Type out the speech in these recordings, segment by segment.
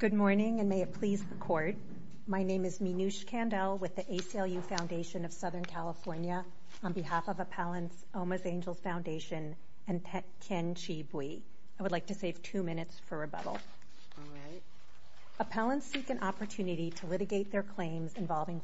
Good morning and may it please the court. My name is Meenush Kandel with the ACLU Foundation of Southern California on behalf of Appellants Oma's Angel Foundation and Ken Chibwe. I would like to save two minutes for rebuttal. All right. Appellants seek an opportunity to litigate their Vital claims involving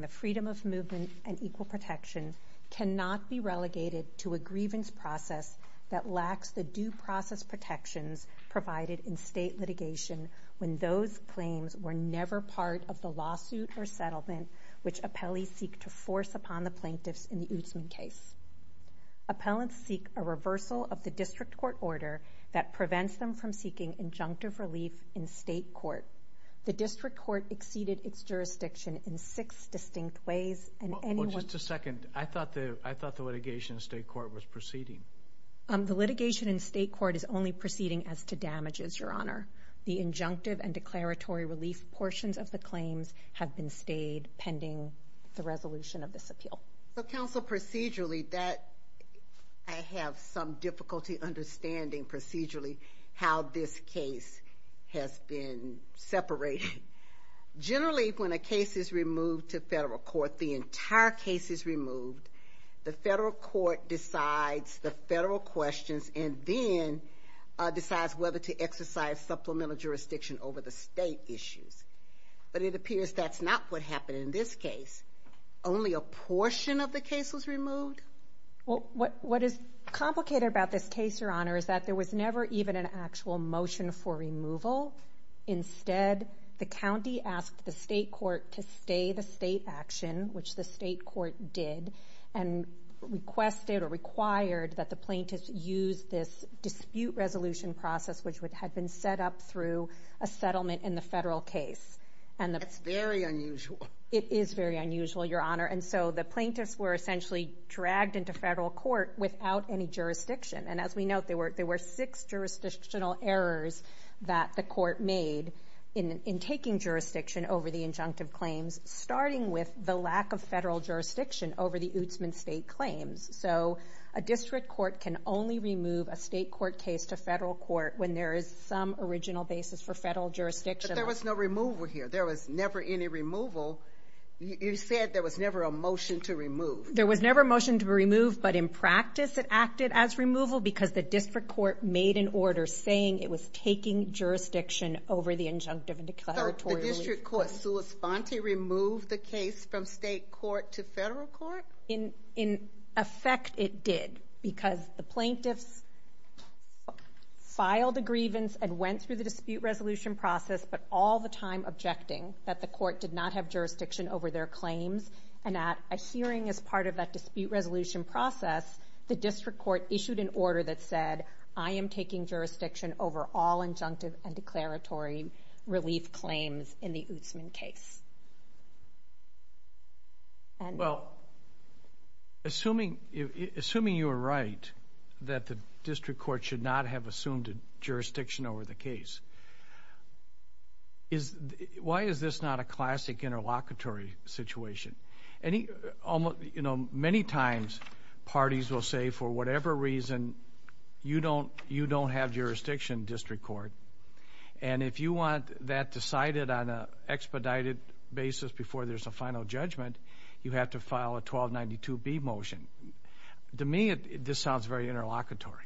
the freedom of movement and equal protection cannot be relegated to a grievance process that lacks the due process protections provided in state litigation when those claims were never part of the lawsuit or settlement which appellees seek to force upon the plaintiffs in the Utsman case. Appellants seek a reversal of the district court order that prevents them from in six distinct ways and anyone. Just a second. I thought that I thought the litigation in state court was proceeding. The litigation in state court is only proceeding as to damages your honor. The injunctive and declaratory relief portions of the claims have been stayed pending the resolution of this appeal. So counsel procedurally that I have some difficulty understanding procedurally how this case has been separated. Generally when a case is removed to federal court the entire case is removed. The federal court decides the federal questions and then decides whether to exercise supplemental jurisdiction over the state issues. But it appears that's not what happened in this case. Only a portion of the case was removed. Well what is complicated about this case your honor is that there was never even an actual motion for removal. Instead the county asked the state court to stay the state action which the state court did and requested or required that the plaintiffs use this dispute resolution process which would have been set up through a settlement in the federal case. And that's very unusual. It is very unusual your honor. And so the plaintiffs were essentially dragged into federal court without any jurisdictional errors that the court made in taking jurisdiction over the injunctive claims starting with the lack of federal jurisdiction over the Utsman state claims. So a district court can only remove a state court case to federal court when there is some original basis for federal jurisdiction. There was no removal here. There was never any removal. You said there was never a motion to remove. There was never a motion to remove an order saying it was taking jurisdiction over the injunctive and declaratory. So the district court sui sponte removed the case from state court to federal court? In effect it did because the plaintiffs filed a grievance and went through the dispute resolution process but all the time objecting that the court did not have jurisdiction over their claims. And at a hearing as part of that dispute resolution process the district court issued an order that said I am taking jurisdiction over all injunctive and declaratory relief claims in the Utsman case. And well assuming assuming you are right that the district court should not have assumed jurisdiction over the case is why is this not a classic interlocutory situation? Many times parties will say for whatever reason you don't you don't have jurisdiction district court and if you want that decided on a expedited basis before there's a final judgment you have to file a 1292 B motion. To me this sounds very interlocutory.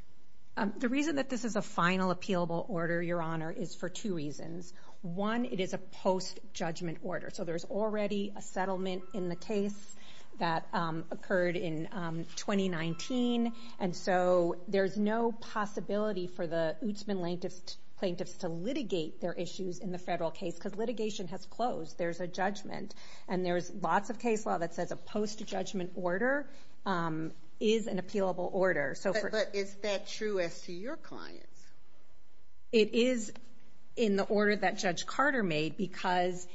The reason that this is a final appealable order your honor is for two reasons. One it is a post judgment order so there's already a settlement in the case that occurred in 2019 and so there's no possibility for the Utsman plaintiffs to litigate their issues in the federal case because litigation has closed. There's a judgment and there's lots of case law that says a post judgment order is an appealable order. But is that true as to your clients? It is in the order that Judge Carter made because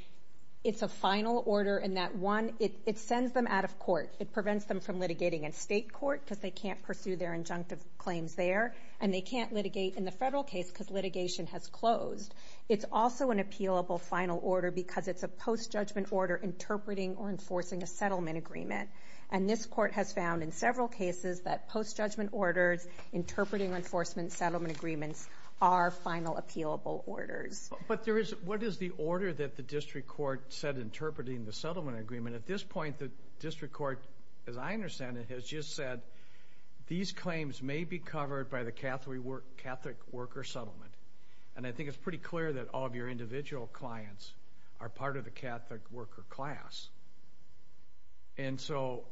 it's a final order in that one it sends them out of court. It prevents them from litigating in state court because they can't pursue their injunctive claims there and they can't litigate in the federal case because litigation has closed. It's also an appealable final order because it's a post judgment order interpreting or enforcing a settlement agreement and this court has found in several cases that post judgment orders interpreting enforcement settlement agreements are final appealable orders. But there is what is the order that the district court said interpreting the settlement agreement at this point the district court as I understand it has just said these claims may be covered by the Catholic worker settlement and I are part of the Catholic worker class and so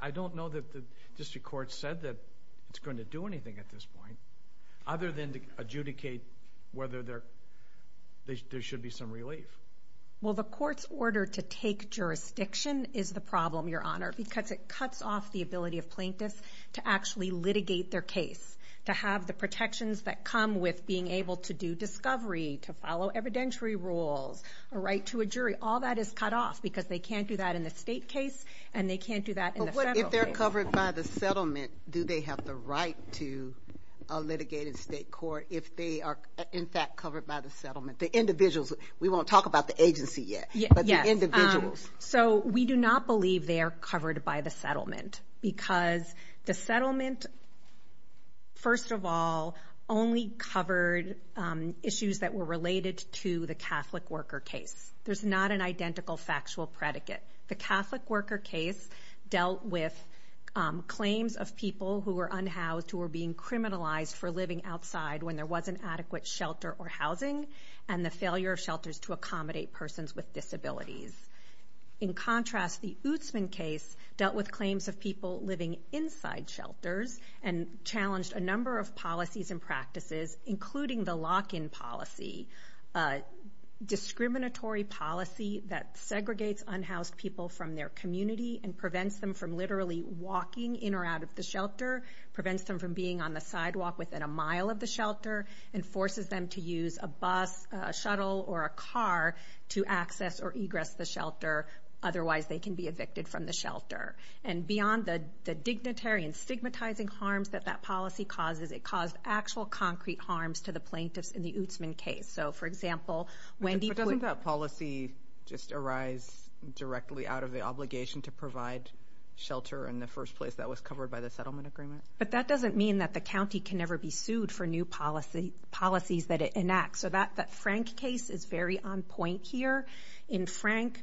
I don't know that the district court said that it's going to do anything at this point other than to adjudicate whether there should be some relief. Well the court's order to take jurisdiction is the problem your honor because it cuts off the ability of a right to a jury. All that is cut off because they can't do that in the state case and they can't do that if they're covered by the settlement. Do they have the right to litigate in state court if they are in fact covered by the settlement the individuals. We won't talk about the agency yet. Yes. So we do not believe they're covered by the settlement because the settlement. First of all only covered issues that were related to the Catholic worker case. There's not an identical factual predicate. The Catholic worker case dealt with claims of people who were unhoused who were being criminalized for living outside when there wasn't adequate shelter or housing and the failure of shelters to accommodate persons with disabilities. In contrast the Ootsman case dealt with claims of people living inside shelters and challenged a number of policies and practices including the lock in policy. A discriminatory policy that segregates unhoused people from their community and prevents them from literally walking in or out of the shelter prevents them from being on the sidewalk within a mile of the shelter and forces them to use a bus shuttle or a car to access or egress the shelter. Otherwise they can be evicted from the shelter and beyond that the dignitary and stigmatizing harms that that policy causes it caused actual concrete harms to the plaintiffs in the Ootsman case. So for example when people don't have policy just arise directly out of the obligation to provide shelter in the first place that was covered by the settlement agreement. But that doesn't mean that the county can never be sued for new policy policies that it enacts. So that Frank case is very on point here. In Frank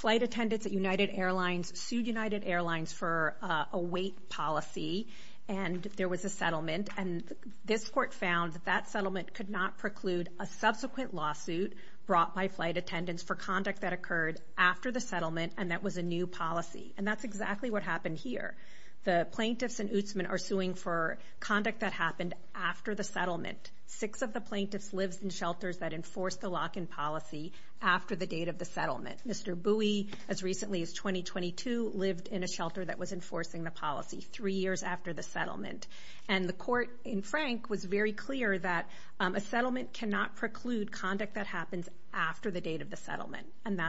flight attendants at United Airlines sued United Airlines for a wait policy and there was a settlement and this court found that that settlement could not preclude a subsequent lawsuit brought by flight attendants for conduct that occurred after the settlement and that was a new policy. And that's exactly what happened here. The plaintiffs in Ootsman are suing for conduct that happened after the settlement. Six of the plaintiffs lives in shelters that enforce the lock in policy after the date of the settlement. Mr. Bowie as recently as 2022 lived in a shelter that was enforcing the policy three years after the settlement and the court in Frank was very clear that a settlement cannot preclude conduct that happens after the date of the settlement. And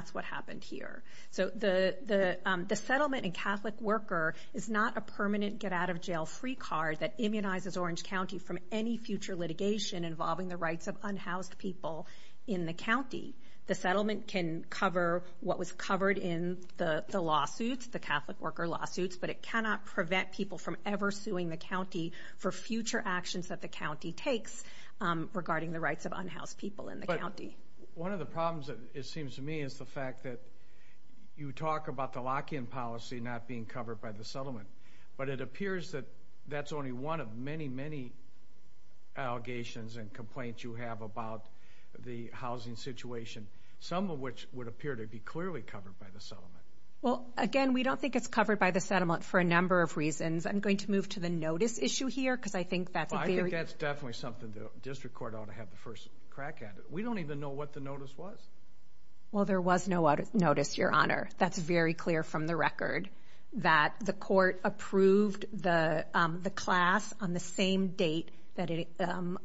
a permanent get out of jail free card that immunizes Orange County from any future litigation involving the rights of unhoused people in the county. The settlement can cover what was covered in the lawsuits the Catholic worker lawsuits but it cannot prevent people from ever suing the county for future actions that the county takes regarding the rights of unhoused people in the county. One of the problems it seems to me is the fact that you talk about the lock in policy not being covered by the settlement. But it appears that that's only one of many many allegations and complaints you have about the housing situation some of which would appear to be clearly covered by the settlement. Well again we don't think it's covered by the settlement for a number of reasons. I'm going to move to the notice issue here because I think that's I think that's definitely something the district court ought to have the first crack at it. We don't even know what the notice was. Well there was no notice your honor. That's very clear from the record that the court approved the class on the same date that it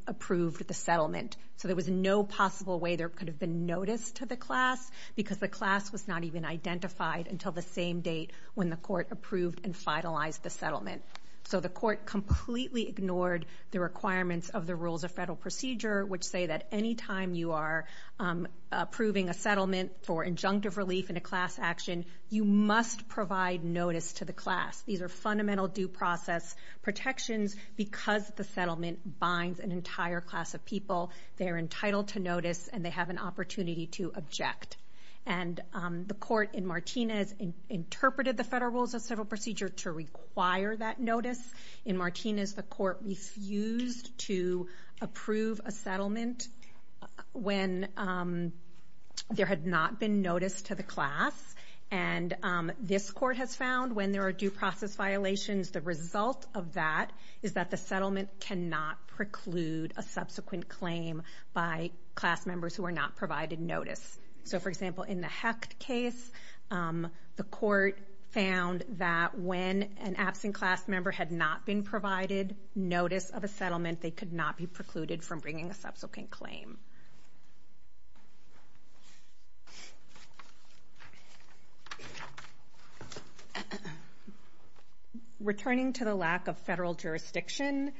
approved the settlement. So there was no possible way there could have been notice to the class because the class was not even identified until the same date when the court approved and finalized the settlement. So the court completely ignored the which say that any time you are approving a settlement for injunctive relief in a class action you must provide notice to the class. These are fundamental due process protections because the settlement binds an entire class of people. They are entitled to notice and they have an opportunity to object. And the settlement when there had not been notice to the class and this court has found when there are due process violations the result of that is that the settlement cannot preclude a subsequent claim by class members who are not provided notice. So for example in the Hecht case the court found that when an a subsequent claim. Returning to the lack of federal jurisdiction,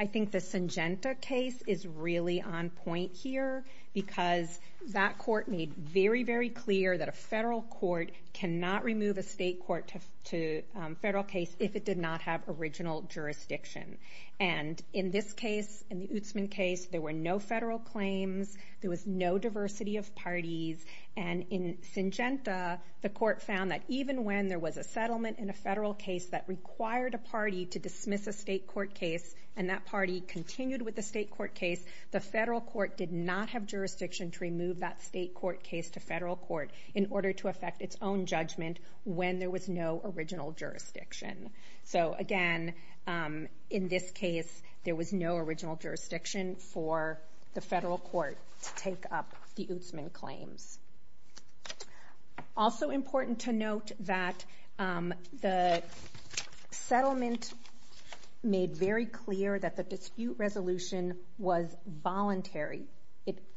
I think the Syngenta case is really on point here because that court made very, very clear that a there were no federal claims, there was no diversity of parties, and in Syngenta the court found that even when there was a settlement in a federal case that required a party to dismiss a state court case and that party continued with the state court case, the federal court did not have jurisdiction to remove that state court case to federal court in order to affect its own judgment when there was no original jurisdiction. So again, in this case there was no original jurisdiction for the federal court to take up the Utsman claims. Also important to note that the settlement made very clear that the dispute resolution was voluntary.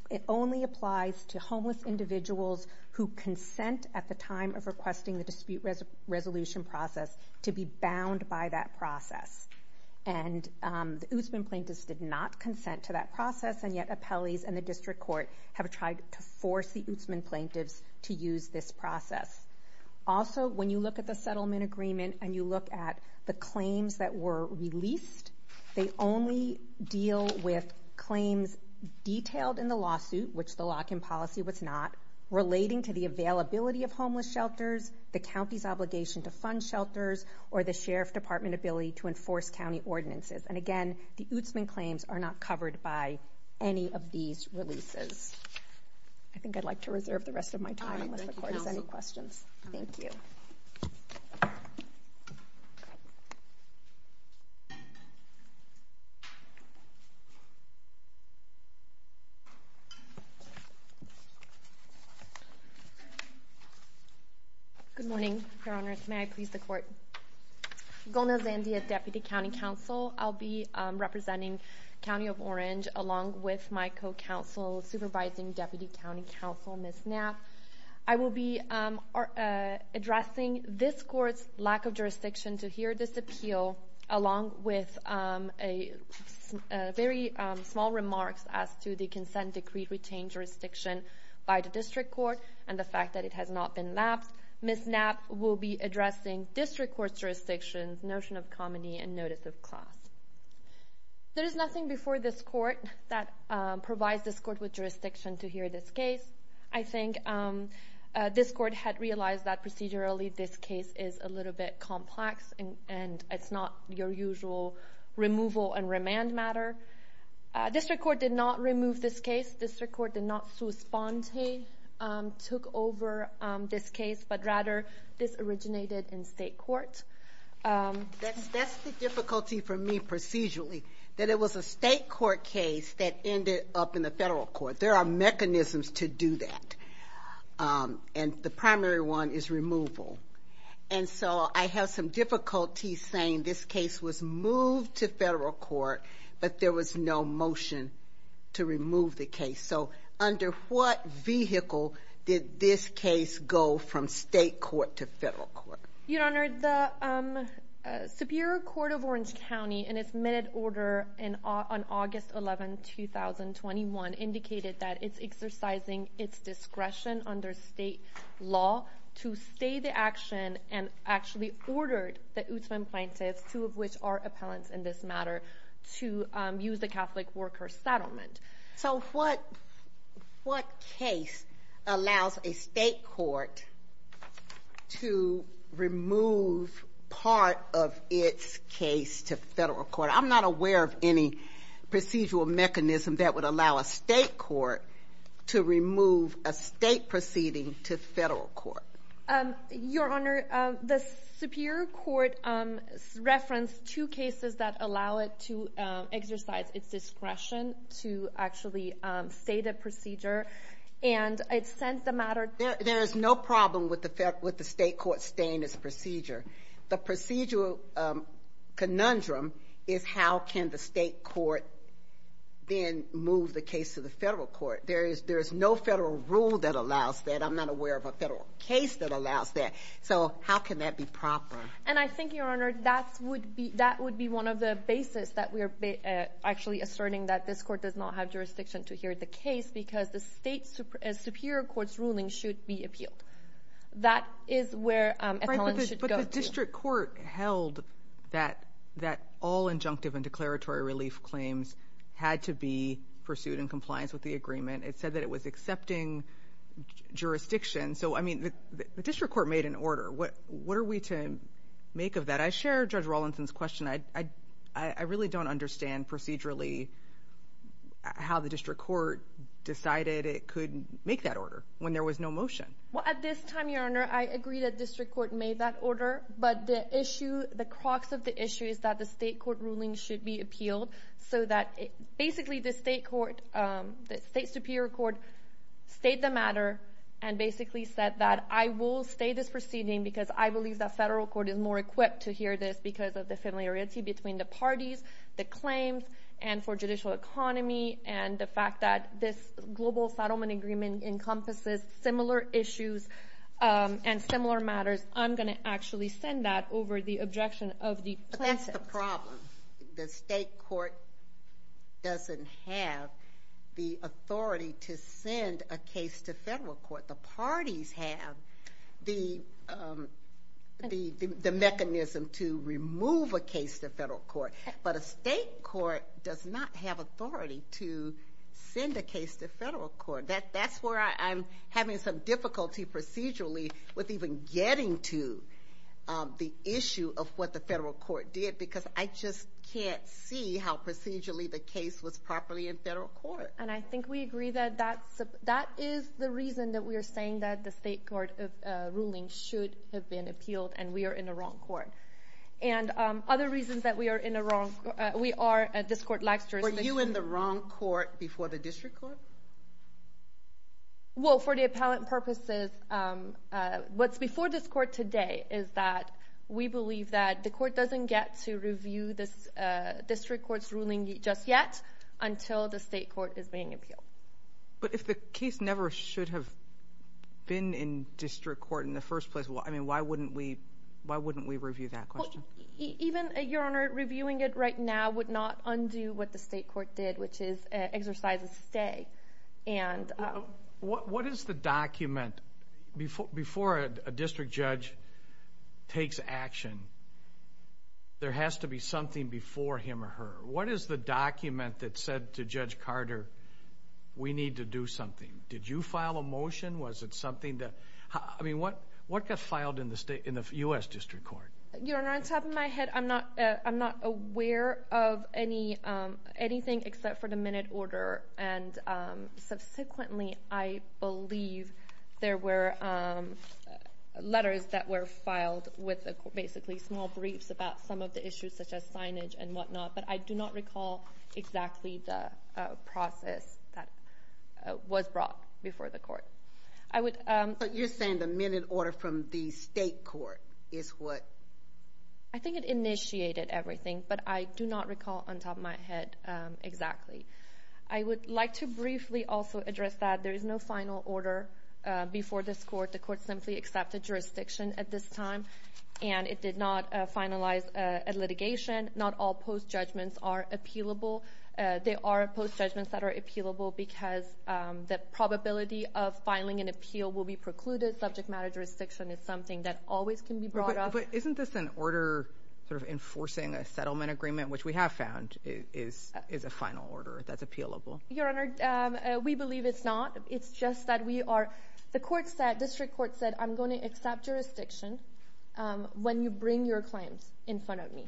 It only applies to homeless individuals who consent at the time of requesting the dispute resolution process to be bound by that process, and the Utsman plaintiffs did not consent to that process and yet appellees and the district court have tried to force the Utsman plaintiffs to use this process. Also when you look at the settlement agreement and you look at the claims that were released, they only deal with claims detailed in the lawsuit, which the lock-in policy was not, relating to the availability of homeless shelters, the county's obligation to fund shelters, or the availability of state funds. Or the sheriff department ability to enforce county ordinances. And again, the Utsman claims are not covered by any of these releases. I think I'd like to reserve the rest of my time unless the court has any questions. Thank you. Good morning, Your Honor. May I please the court? Gomez-Andea, Deputy County Counsel. I'll be representing County of Orange along with my co-counsel, Supervising Deputy County Counsel, Ms. Knapp. I will be addressing this court's lack of jurisdiction to hear this appeal along with very small remarks as to the consent decree retained jurisdiction by the district court and the fact that it has not been lapsed. Ms. Knapp will be addressing district court's jurisdiction, notion of comity, and notice of class. There is nothing before this court that provides this court with jurisdiction to hear this case. I think this court had realized that procedurally this case is a little bit complex and it's not your usual removal and remand matter. District court did not remove this case. District court did not spontaneously took over this case, but rather this originated in state court. That's the difficulty for me procedurally, that it was a state court case that ended up in the federal court. There are mechanisms to do that. And the primary one is removal. And so I have some difficulty saying this case was moved to federal court, but there was no motion to remove the case. So under what vehicle did this case go from state court to federal court? Your Honor, the Superior Court of Orange County, in its minute order on August 11, 2021, indicated that it's exercising its discretion under state law to stay the action and actually ordered the Utzman plaintiffs, two of which are appellants in this matter, to use the Catholic worker settlement. So what case allows a state court to remove part of its case to federal court? I'm not aware of any procedural mechanism that would allow a state court to remove a state proceeding to federal court. Your Honor, the Superior Court referenced two cases that allow it to exercise its discretion to actually state a procedure, and it said the matter... And I think, Your Honor, that would be one of the basis that we are actually asserting that this court does not have jurisdiction to hear the case because the Superior Court's ruling should be appealed. That is where appellants should go to. The district court held that all injunctive and declaratory relief claims had to be pursued in compliance with the agreement. It said that it was accepting jurisdiction. So, I mean, the district court made an order. What are we to make of that? I share Judge Rawlinson's question. I really don't understand procedurally how the district court decided it could make that order when there was no motion. Well, at this time, Your Honor, I agree that district court made that order, but the issue, the crux of the issue is that the state court ruling should be appealed so that basically the state court, the state Superior Court, stayed the matter and basically said that I will stay this proceeding because I believe that federal court is more equipped to hear this because of the familiarity between the parties, the claims, and for judicial economy, and the fact that this global settlement agreement encompasses similar issues and similar matters, I'm going to actually send that over the objection of the plaintiffs. The state court doesn't have the authority to send a case to federal court. The parties have the mechanism to remove a case to federal court, but a state court does not have authority to send a case to federal court. That's where I'm having some difficulty procedurally with even getting to the issue of what the federal court did because I just can't see how procedurally the case was properly in federal court. And I think we agree that that is the reason that we are saying that the state court ruling should have been appealed and we are in the wrong court. And other reasons that we are in the wrong court, we are at this court. Were you in the wrong court before the district court? Well, for the appellate purposes, what's before this court today is that we believe that the court doesn't get to review this district court's ruling just yet until the state court is being appealed. But if the case never should have been in district court in the first place, why wouldn't we review that question? Even, Your Honor, reviewing it right now would not undo what the state court did, which is exercise a stay. What is the document, before a district judge takes action, there has to be something before him or her? What is the document that said to Judge Carter, we need to do something? Did you file a motion? Was it something that, I mean, what got filed in the U.S. District Court? Your Honor, on top of my head, I'm not aware of anything except for the minute order. And subsequently, I believe there were letters that were filed with basically small briefs about some of the issues such as signage and whatnot. But I do not recall exactly the process that was brought before the court. But you're saying the minute order from the state court is what? I think it initiated everything, but I do not recall on top of my head exactly. I would like to briefly also address that there is no final order before this court. The court simply accepted jurisdiction at this time, and it did not finalize a litigation. Not all post judgments are appealable. They are post judgments that are appealable because the probability of filing an appeal will be precluded. Subject matter jurisdiction is something that always can be brought up. But isn't this an order sort of enforcing a settlement agreement, which we have found is a final order that's appealable? Your Honor, we believe it's not. It's just that we are, the court said, district court said, I'm going to accept jurisdiction when you bring your claims in front of me.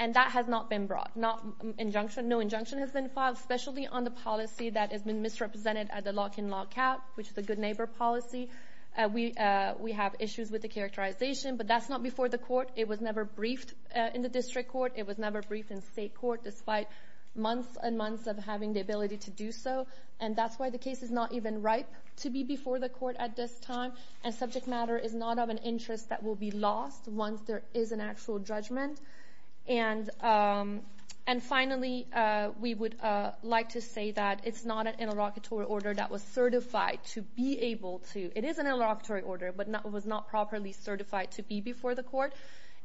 And that has not been brought. No injunction has been filed, especially on the policy that has been misrepresented at the lock-in, lock-out, which is a good neighbor policy. We have issues with the characterization, but that's not before the court. It was never briefed in the district court. It was never briefed in state court, despite months and months of having the ability to do so. And that's why the case is not even ripe to be before the court at this time. And subject matter is not of an interest that will be lost once there is an actual judgment. And finally, we would like to say that it's not an interlocutory order that was certified to be able to. It is an interlocutory order, but it was not properly certified to be before the court.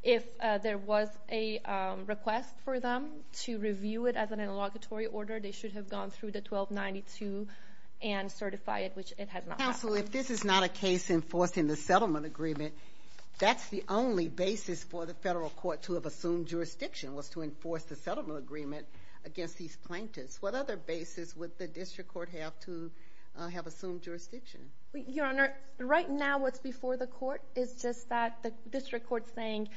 If there was a request for them to review it as an interlocutory order, they should have gone through the 1292 and certified it, which it has not. Counsel, if this is not a case enforcing the settlement agreement, that's the only basis for the federal court to have assumed jurisdiction, was to enforce the settlement agreement against these plaintiffs. What other basis would the district court have to have assumed jurisdiction? Your Honor, right now what's before the court is just that the district court is saying,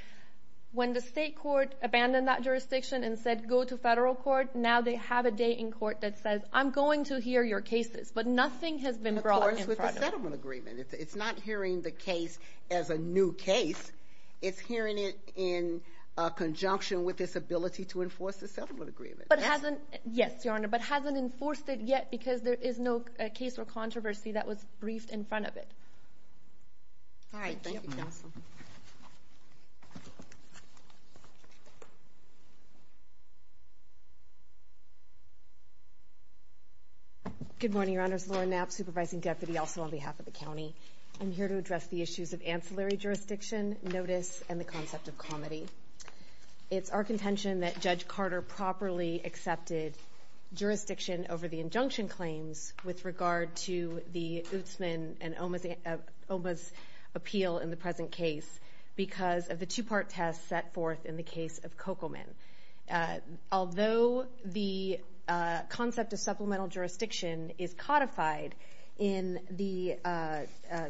when the state court abandoned that jurisdiction and said, go to federal court, now they have a day in court that says, I'm going to hear your cases. But nothing has been brought in front of them. And, of course, with the settlement agreement. It's not hearing the case as a new case. It's hearing it in conjunction with its ability to enforce the settlement agreement. Yes, Your Honor, but hasn't enforced it yet because there is no case or controversy that was briefed in front of it. All right, thank you, Counsel. Good morning, Your Honors. Laura Knapp, Supervising Deputy, also on behalf of the county. I'm here to address the issues of ancillary jurisdiction, notice, and the concept of comity. It's our contention that Judge Carter properly accepted jurisdiction over the injunction claims with regard to the Utsman and Oma's appeal in the present case because of the two-part test set forth in the case of Cokelman. Although the concept of supplemental jurisdiction is codified in the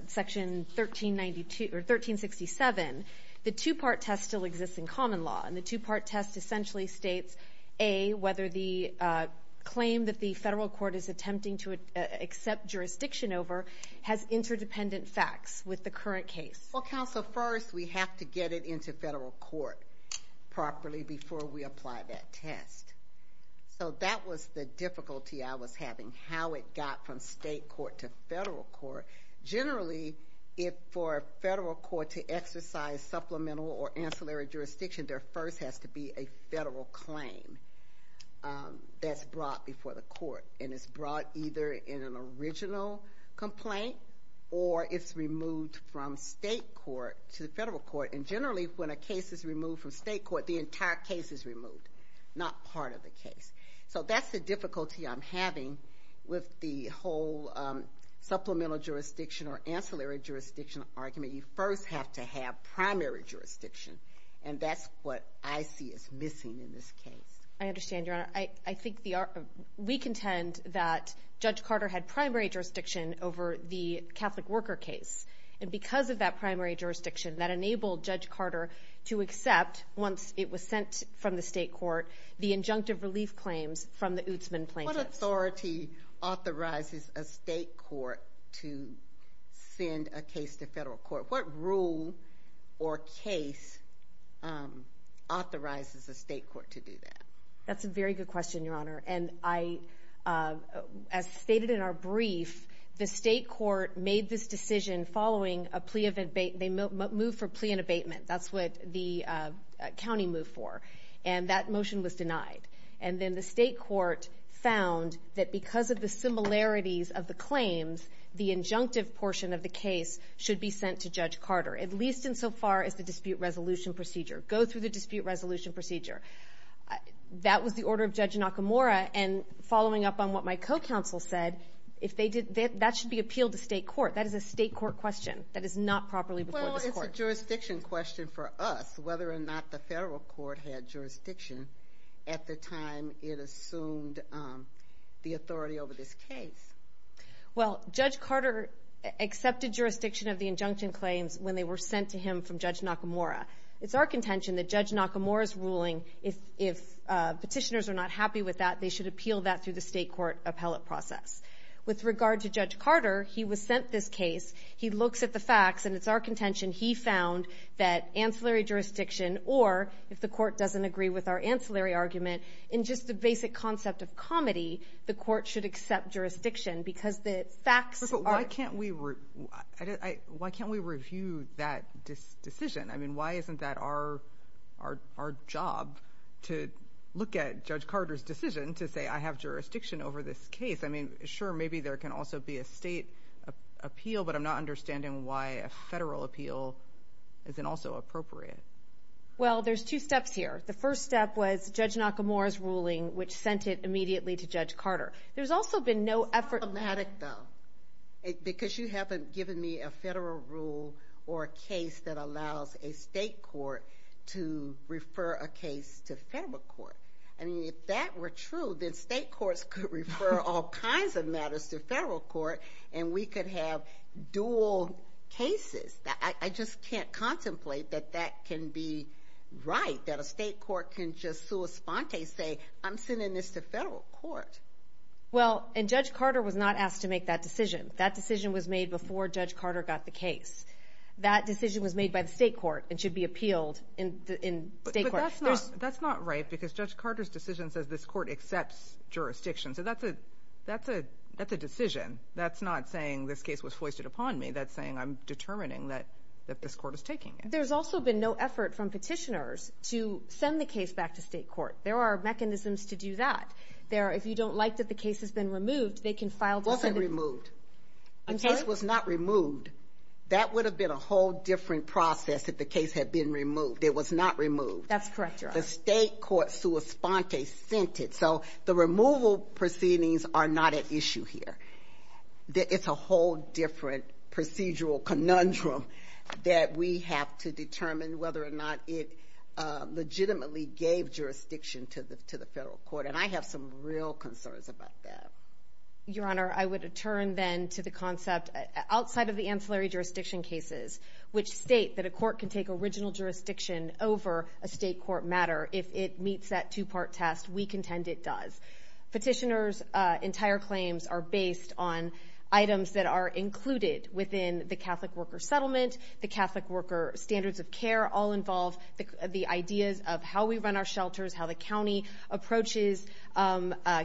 Section 1367, the two-part test still exists in common law. And the two-part test essentially states, A, whether the claim that the federal court is attempting to accept jurisdiction over has interdependent facts with the current case. Well, Counsel, first we have to get it into federal court properly before we apply that test. So that was the difficulty I was having, how it got from state court to federal court. Generally, for a federal court to exercise supplemental or ancillary jurisdiction, there first has to be a federal claim that's brought before the court. And it's brought either in an original complaint or it's removed from state court to federal court. And generally, when a case is removed from state court, the entire case is removed, not part of the case. So that's the difficulty I'm having with the whole supplemental jurisdiction or ancillary jurisdiction argument. You first have to have primary jurisdiction, and that's what I see as missing in this case. I understand, Your Honor. We contend that Judge Carter had primary jurisdiction over the Catholic worker case. And because of that primary jurisdiction, that enabled Judge Carter to accept, once it was sent from the state court, the injunctive relief claims from the Ootsman plaintiffs. What authority authorizes a state court to send a case to federal court? What rule or case authorizes a state court to do that? That's a very good question, Your Honor. And as stated in our brief, the state court made this decision following a plea of abatement. They moved for plea and abatement. That's what the county moved for. And that motion was denied. And then the state court found that because of the similarities of the claims, the injunctive portion of the case should be sent to Judge Carter, at least insofar as the dispute resolution procedure. Go through the dispute resolution procedure. That was the order of Judge Nakamura. And following up on what my co-counsel said, that should be appealed to state court. That is a state court question. That is not properly before this court. That's a jurisdiction question for us, whether or not the federal court had jurisdiction at the time it assumed the authority over this case. Well, Judge Carter accepted jurisdiction of the injunction claims when they were sent to him from Judge Nakamura. It's our contention that Judge Nakamura's ruling, if petitioners are not happy with that, they should appeal that through the state court appellate process. With regard to Judge Carter, he was sent this case. He looks at the facts, and it's our contention he found that ancillary jurisdiction or if the court doesn't agree with our ancillary argument, in just the basic concept of comedy, the court should accept jurisdiction because the facts are. But why can't we review that decision? I mean, why isn't that our job to look at Judge Carter's decision to say I have jurisdiction over this case? I mean, sure, maybe there can also be a state appeal, but I'm not understanding why a federal appeal isn't also appropriate. Well, there's two steps here. The first step was Judge Nakamura's ruling, which sent it immediately to Judge Carter. There's also been no effort. It's problematic, though, because you haven't given me a federal rule or a case that allows a state court to refer a case to federal court. I mean, if that were true, then state courts could refer all kinds of matters to federal court, and we could have dual cases. I just can't contemplate that that can be right, that a state court can just sua sponte say I'm sending this to federal court. Well, and Judge Carter was not asked to make that decision. That decision was made before Judge Carter got the case. That decision was made by the state court and should be appealed in state court. But that's not right because Judge Carter's decision says this court accepts jurisdiction. So that's a decision. That's not saying this case was foisted upon me. That's saying I'm determining that this court is taking it. There's also been no effort from petitioners to send the case back to state court. There are mechanisms to do that. If you don't like that the case has been removed, they can file a defendant. It wasn't removed. I'm sorry? The case was not removed. That would have been a whole different process if the case had been removed. It was not removed. That's correct, Your Honor. The state court sua sponte sent it. So the removal proceedings are not at issue here. It's a whole different procedural conundrum that we have to determine whether or not it legitimately gave jurisdiction to the federal court. And I have some real concerns about that. Your Honor, I would turn then to the concept outside of the ancillary jurisdiction cases which state that a court can take original jurisdiction over a state court matter. If it meets that two-part test, we contend it does. Petitioners' entire claims are based on items that are included within the Catholic worker settlement. The Catholic worker standards of care all involve the ideas of how we run our shelters, how the county approaches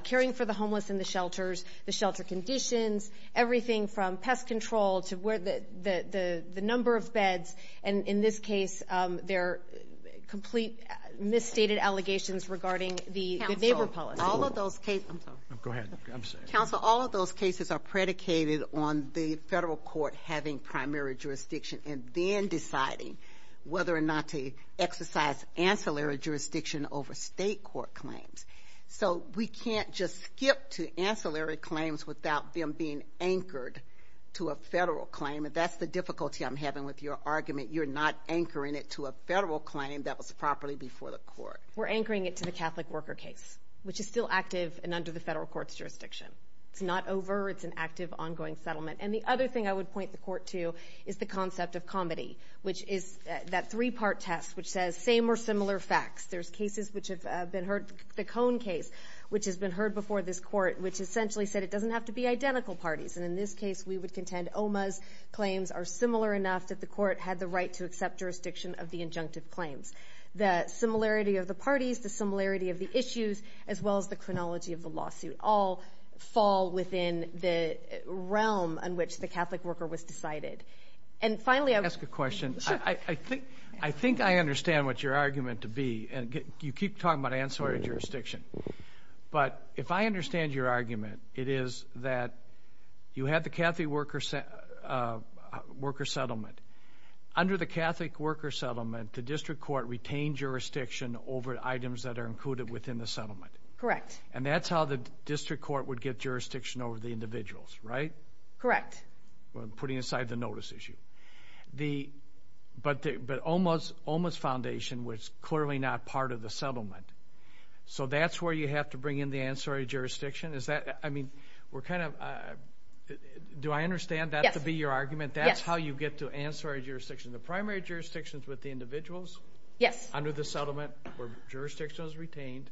caring for the homeless in the shelters, the shelter conditions, everything from pest control to the number of beds. And in this case, there are complete misstated allegations regarding the neighbor policy. Counsel, all of those cases are predicated on the federal court having primary jurisdiction and then deciding whether or not to exercise ancillary jurisdiction over state court claims. So we can't just skip to ancillary claims without them being anchored to a federal claim. And that's the difficulty I'm having with your argument. You're not anchoring it to a federal claim that was properly before the court. We're anchoring it to the Catholic worker case, which is still active and under the federal court's jurisdiction. It's not over. It's an active, ongoing settlement. And the other thing I would point the court to is the concept of comity, which is that three-part test which says same or similar facts. There's cases which have been heard, the Cone case, which has been heard before this court, which essentially said it doesn't have to be identical parties. And in this case, we would contend OMA's claims are similar enough that the court had the right to accept jurisdiction of the injunctive claims. The similarity of the parties, the similarity of the issues, as well as the chronology of the lawsuit, all fall within the realm in which the Catholic worker was decided. And finally, I would ask a question. I think I understand what your argument to be. You keep talking about ancillary jurisdiction. But if I understand your argument, it is that you had the Catholic worker settlement. Under the Catholic worker settlement, the district court retained jurisdiction over items that are included within the settlement. Correct. And that's how the district court would get jurisdiction over the individuals, right? Correct. Putting aside the notice issue. But OMA's foundation was clearly not part of the settlement. So that's where you have to bring in the ancillary jurisdiction? Is that, I mean, we're kind of, do I understand that to be your argument? Yes. That's how you get to ancillary jurisdiction. The primary jurisdiction is with the individuals? Yes. Under the settlement where jurisdiction was retained.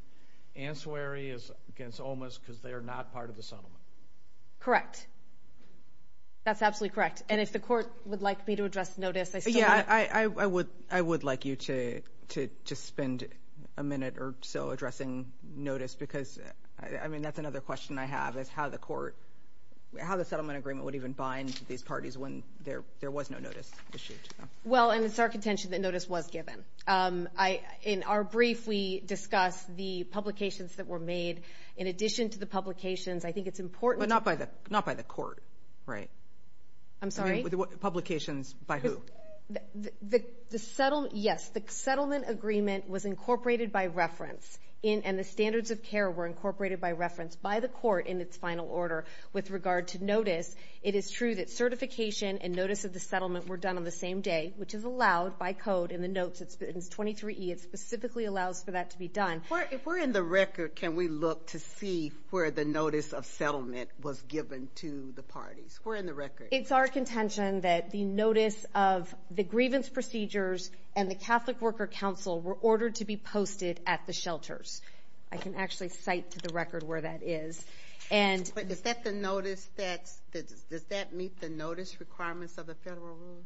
Ancillary is against OMA's because they are not part of the settlement. Correct. That's absolutely correct. And if the court would like me to address notice, I still would. Yeah, I would like you to spend a minute or so addressing notice because, I mean, that's another question I have, is how the court, how the settlement agreement would even bind these parties when there was no notice issued. Well, and it's our contention that notice was given. In our brief, we discuss the publications that were made. In addition to the publications, I think it's important to Not by the court, right? I'm sorry? Publications by who? The settlement, yes, the settlement agreement was incorporated by reference and the standards of care were incorporated by reference by the court in its final order with regard to notice. It is true that certification and notice of the settlement were done on the same day, which is allowed by code in the notes. It's 23E. It specifically allows for that to be done. If we're in the record, can we look to see where the notice of settlement was given to the parties? We're in the record. It's our contention that the notice of the grievance procedures and the Catholic Worker Council were ordered to be posted at the shelters. I can actually cite to the record where that is. But does that meet the notice requirements of the federal rules?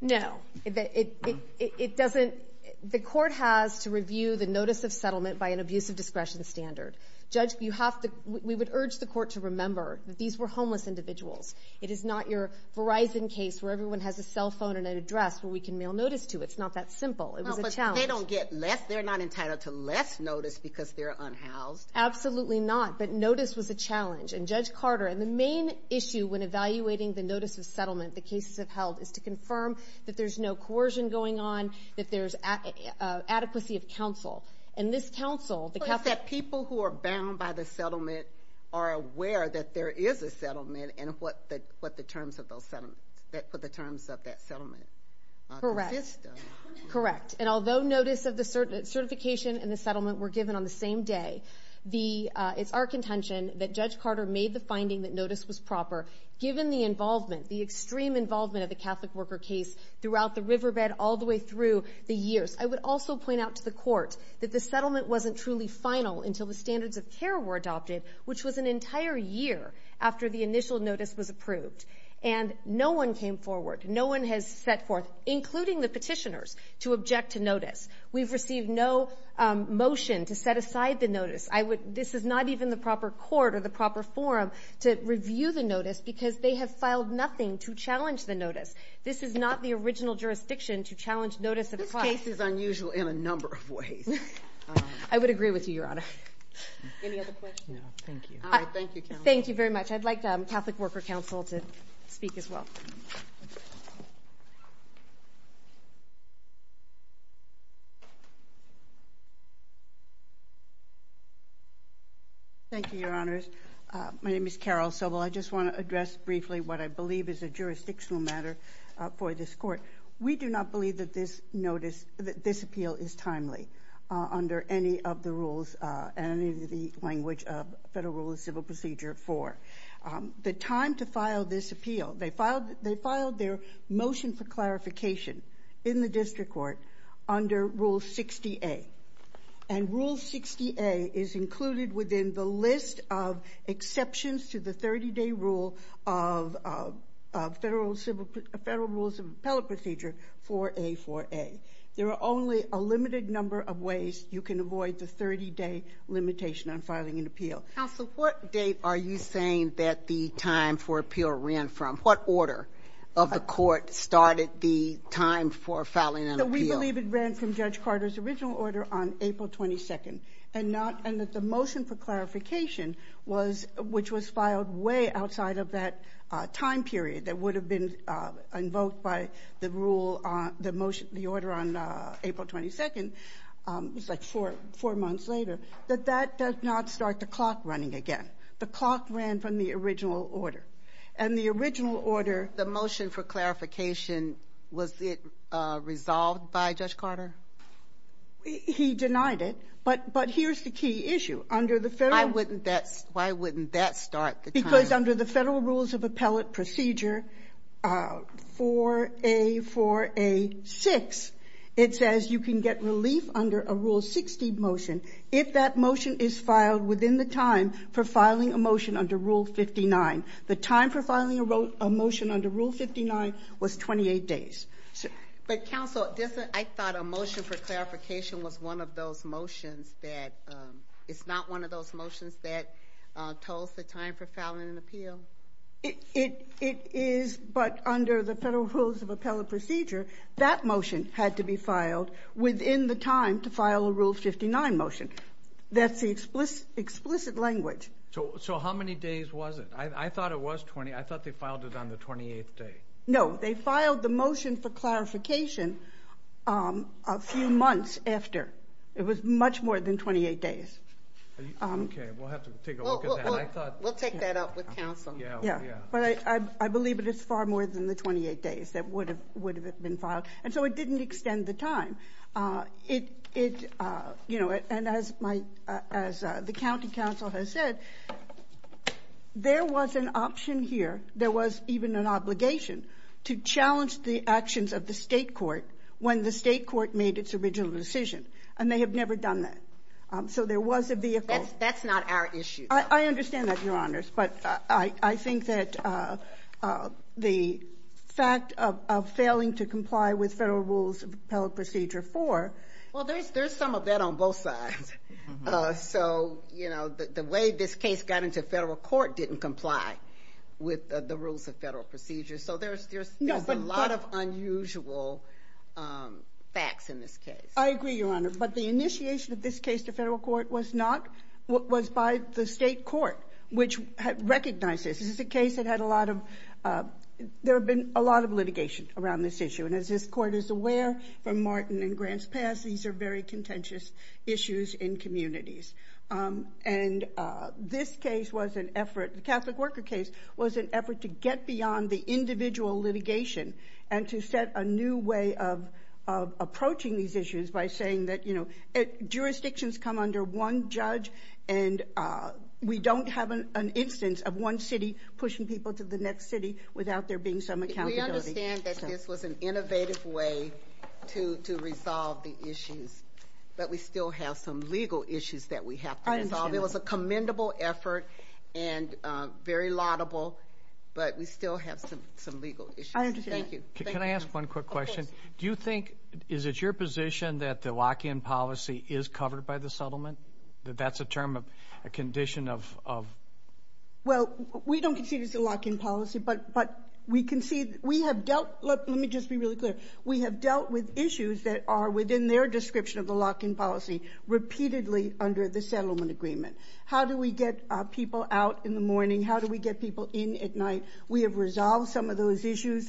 No. It doesn't. The court has to review the notice of settlement by an abuse of discretion standard. Judge, we would urge the court to remember that these were homeless individuals. It is not your Verizon case where everyone has a cell phone and an address where we can mail notice to. It's not that simple. It was a challenge. Well, but they don't get less. They're not entitled to less notice because they're unhoused. Absolutely not, but notice was a challenge. And Judge Carter, and the main issue when evaluating the notice of settlement the cases have held is to confirm that there's no coercion going on, that there's adequacy of counsel. And this counsel, the Catholic Council. So it's that people who are bound by the settlement are aware that there is a settlement and what the terms of that settlement consist of. Correct. Correct. And although notice of the certification and the settlement were given on the same day, it's our contention that Judge Carter made the finding that notice was proper. Given the involvement, the extreme involvement of the Catholic worker case throughout the riverbed all the way through the years. I would also point out to the court that the settlement wasn't truly final until the standards of care were adopted, which was an entire year after the initial notice was approved. And no one came forward. No one has set forth, including the petitioners, to object to notice. We've received no motion to set aside the notice. This is not even the proper court or the proper forum to review the notice because they have filed nothing to challenge the notice. This is not the original jurisdiction to challenge notice of class. This case is unusual in a number of ways. I would agree with you, Your Honor. Any other questions? No, thank you. All right, thank you, counsel. Thank you very much. I'd like the Catholic Worker Council to speak as well. Thank you, Your Honors. My name is Carol Sobel. I just want to address briefly what I believe is a jurisdictional matter for this court. We do not believe that this appeal is timely under any of the rules and any of the language of Federal Rule of Civil Procedure 4. The time to file this appeal, they filed their motion for clarification in the district court under Rule 60A. And Rule 60A is included within the list of exceptions to the 30-day rule of Federal Rules of Appellate Procedure 4A4A. There are only a limited number of ways you can avoid the 30-day limitation on filing an appeal. Counsel, what date are you saying that the time for appeal ran from? What order of the court started the time for filing an appeal? We believe it ran from Judge Carter's original order on April 22nd. And that the motion for clarification, which was filed way outside of that time period that would have been invoked by the order on April 22nd, it was like four months later, that that does not start the clock running again. The clock ran from the original order. And the original order. The motion for clarification, was it resolved by Judge Carter? He denied it. But here's the key issue. Under the Federal. Why wouldn't that start the time? Because under the Federal Rules of Appellate Procedure 4A4A6, it says you can get relief under a Rule 60 motion if that motion is filed within the time for filing a motion under Rule 59. The time for filing a motion under Rule 59 was 28 days. But, Counsel, I thought a motion for clarification was one of those motions that, it's not one of those motions that tells the time for filing an appeal? It is, but under the Federal Rules of Appellate Procedure, that motion had to be filed within the time to file a Rule 59 motion. That's the explicit language. So how many days was it? I thought it was 28. I thought they filed it on the 28th day. No, they filed the motion for clarification a few months after. It was much more than 28 days. Okay, we'll have to take a look at that. We'll take that up with Counsel. But I believe it is far more than the 28 days that would have been filed. And so it didn't extend the time. It, you know, and as the county counsel has said, there was an option here, there was even an obligation to challenge the actions of the State court when the State court made its original decision. And they have never done that. So there was a vehicle. That's not our issue. I understand that, Your Honors. But I think that the fact of failing to comply with Federal Rules of Appellate Procedure 4. Well, there's some of that on both sides. So, you know, the way this case got into Federal court didn't comply with the Rules of Appellate Procedure. So there's a lot of unusual facts in this case. I agree, Your Honor. But the initiation of this case to Federal court was by the State court, which recognized this. This is a case that had a lot of litigation around this issue. And as this court is aware, from Martin and Grant's past, these are very contentious issues in communities. And this case was an effort, the Catholic worker case, was an effort to get beyond the individual litigation and to set a new way of approaching these issues by saying that, you know, jurisdictions come under one judge and we don't have an instance of one city pushing people to the next city without there being some accountability. We understand that this was an innovative way to resolve the issues, but we still have some legal issues that we have to resolve. It was a commendable effort and very laudable, but we still have some legal issues. Thank you. Can I ask one quick question? Do you think, is it your position, that the lock-in policy is covered by the settlement, that that's a term, a condition of? Well, we don't consider it a lock-in policy, but we can see we have dealt, let me just be really clear, we have dealt with issues that are within their description of the lock-in policy repeatedly under the settlement agreement. How do we get people out in the morning? How do we get people in at night? We have resolved some of those issues.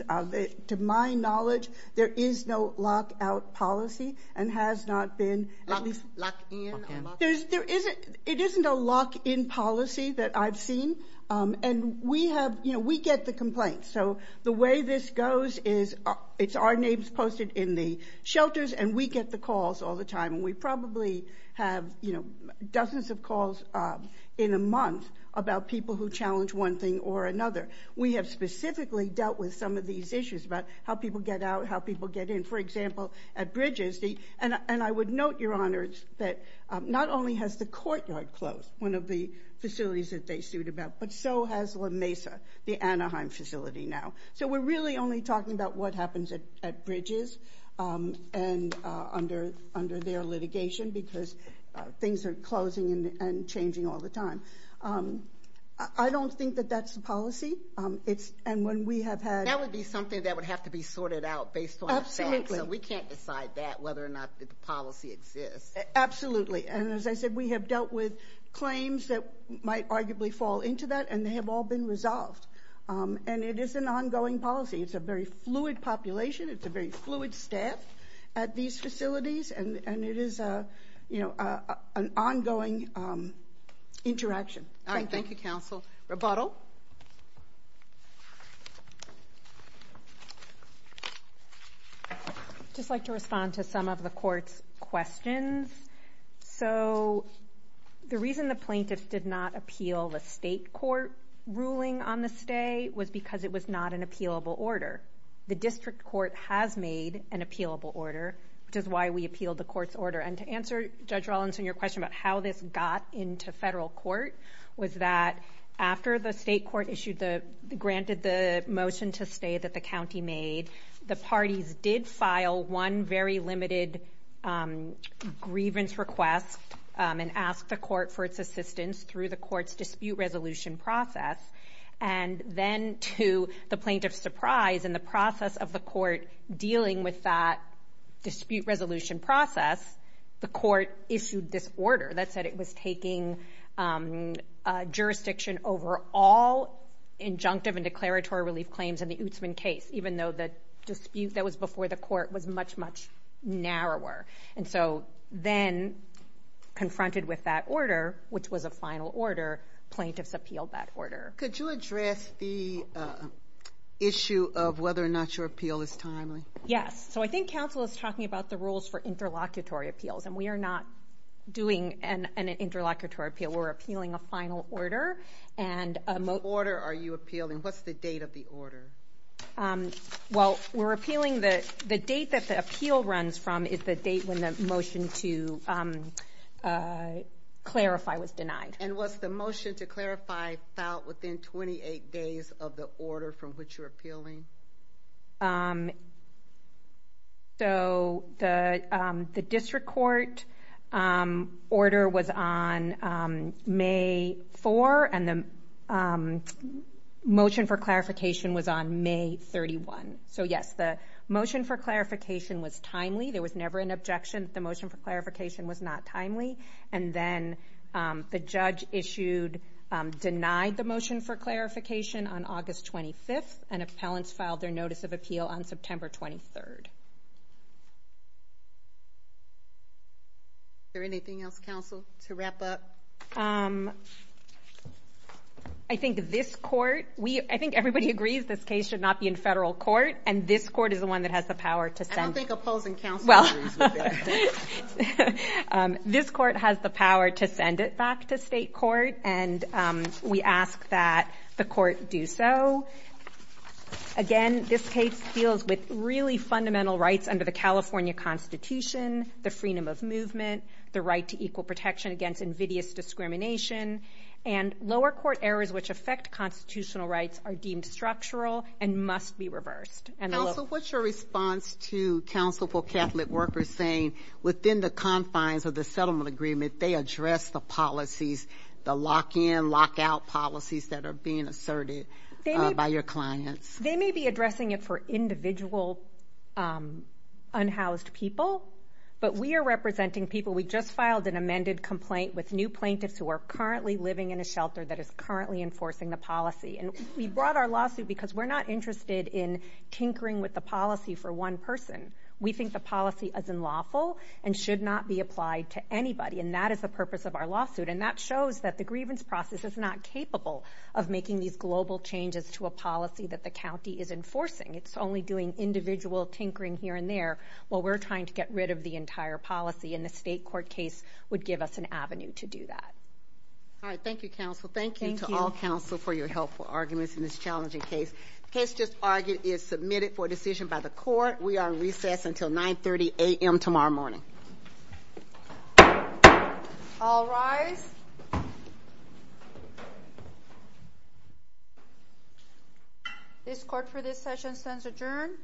To my knowledge, there is no lock-out policy and has not been. Lock-in? It isn't a lock-in policy that I've seen. We get the complaints. The way this goes is it's our names posted in the shelters, and we get the calls all the time. We probably have dozens of calls in a month about people who challenge one thing or another. We have specifically dealt with some of these issues about how people get out, how people get in. For example, at Bridges, and I would note, Your Honors, that not only has the courtyard closed, one of the facilities that they sued about, but so has La Mesa, the Anaheim facility now. So we're really only talking about what happens at Bridges and under their litigation, because things are closing and changing all the time. I don't think that that's the policy, and when we have had ---- That would be something that would have to be sorted out based on the facts, so we can't decide that, whether or not the policy exists. Absolutely. And as I said, we have dealt with claims that might arguably fall into that, and they have all been resolved. And it is an ongoing policy. It's a very fluid population. It's a very fluid staff at these facilities, and it is an ongoing interaction. Thank you. All right. Thank you, Counsel. Rebuttal. Rebuttal. I'd just like to respond to some of the Court's questions. So the reason the plaintiffs did not appeal the state court ruling on the stay was because it was not an appealable order. The district court has made an appealable order, which is why we appealed the court's order. And to answer Judge Rollins and your question about how this got into federal court was that after the state court granted the motion to stay that the county made, the parties did file one very limited grievance request and asked the court for its assistance through the court's dispute resolution process. And then to the plaintiff's surprise, in the process of the court dealing with that dispute resolution process, the court issued this order that said it was taking jurisdiction over all injunctive and declaratory relief claims in the Ootsman case, even though the dispute that was before the court was much, much narrower. And so then, confronted with that order, which was a final order, plaintiffs appealed that order. Could you address the issue of whether or not your appeal is timely? Yes. So I think Counsel is talking about the rules for interlocutory appeals, and we are not doing an interlocutory appeal. We're appealing a final order. What order are you appealing? What's the date of the order? Well, we're appealing the date that the appeal runs from is the date when the motion to clarify was denied. And was the motion to clarify filed within 28 days of the order from which you're appealing? So the district court order was on May 4, and the motion for clarification was on May 31. So, yes, the motion for clarification was timely. There was never an objection. The motion for clarification was not timely. And then the judge issued denied the motion for clarification on August 25th, and appellants filed their notice of appeal on September 23rd. Is there anything else, Counsel, to wrap up? I think this court, I think everybody agrees this case should not be in federal court, and this court is the one that has the power to send it. I don't think opposing counsel agrees with that. This court has the power to send it back to state court, and we ask that the court do so. Again, this case deals with really fundamental rights under the California Constitution, the freedom of movement, the right to equal protection against invidious discrimination, and lower court errors which affect constitutional rights are deemed structural and must be reversed. Counsel, what's your response to counsel for Catholic workers saying within the lock-in, lock-out policies that are being asserted by your clients? They may be addressing it for individual unhoused people, but we are representing people. We just filed an amended complaint with new plaintiffs who are currently living in a shelter that is currently enforcing the policy. And we brought our lawsuit because we're not interested in tinkering with the policy for one person. We think the policy is unlawful and should not be applied to anybody, and that is the purpose of our lawsuit. And that shows that the grievance process is not capable of making these global changes to a policy that the county is enforcing. It's only doing individual tinkering here and there while we're trying to get rid of the entire policy, and the state court case would give us an avenue to do that. All right, thank you, counsel. Thank you to all counsel for your helpful arguments in this challenging case. The case just argued is submitted for decision by the court. We are on recess until 930 a.m. tomorrow morning. All rise. This court for this session stands adjourned.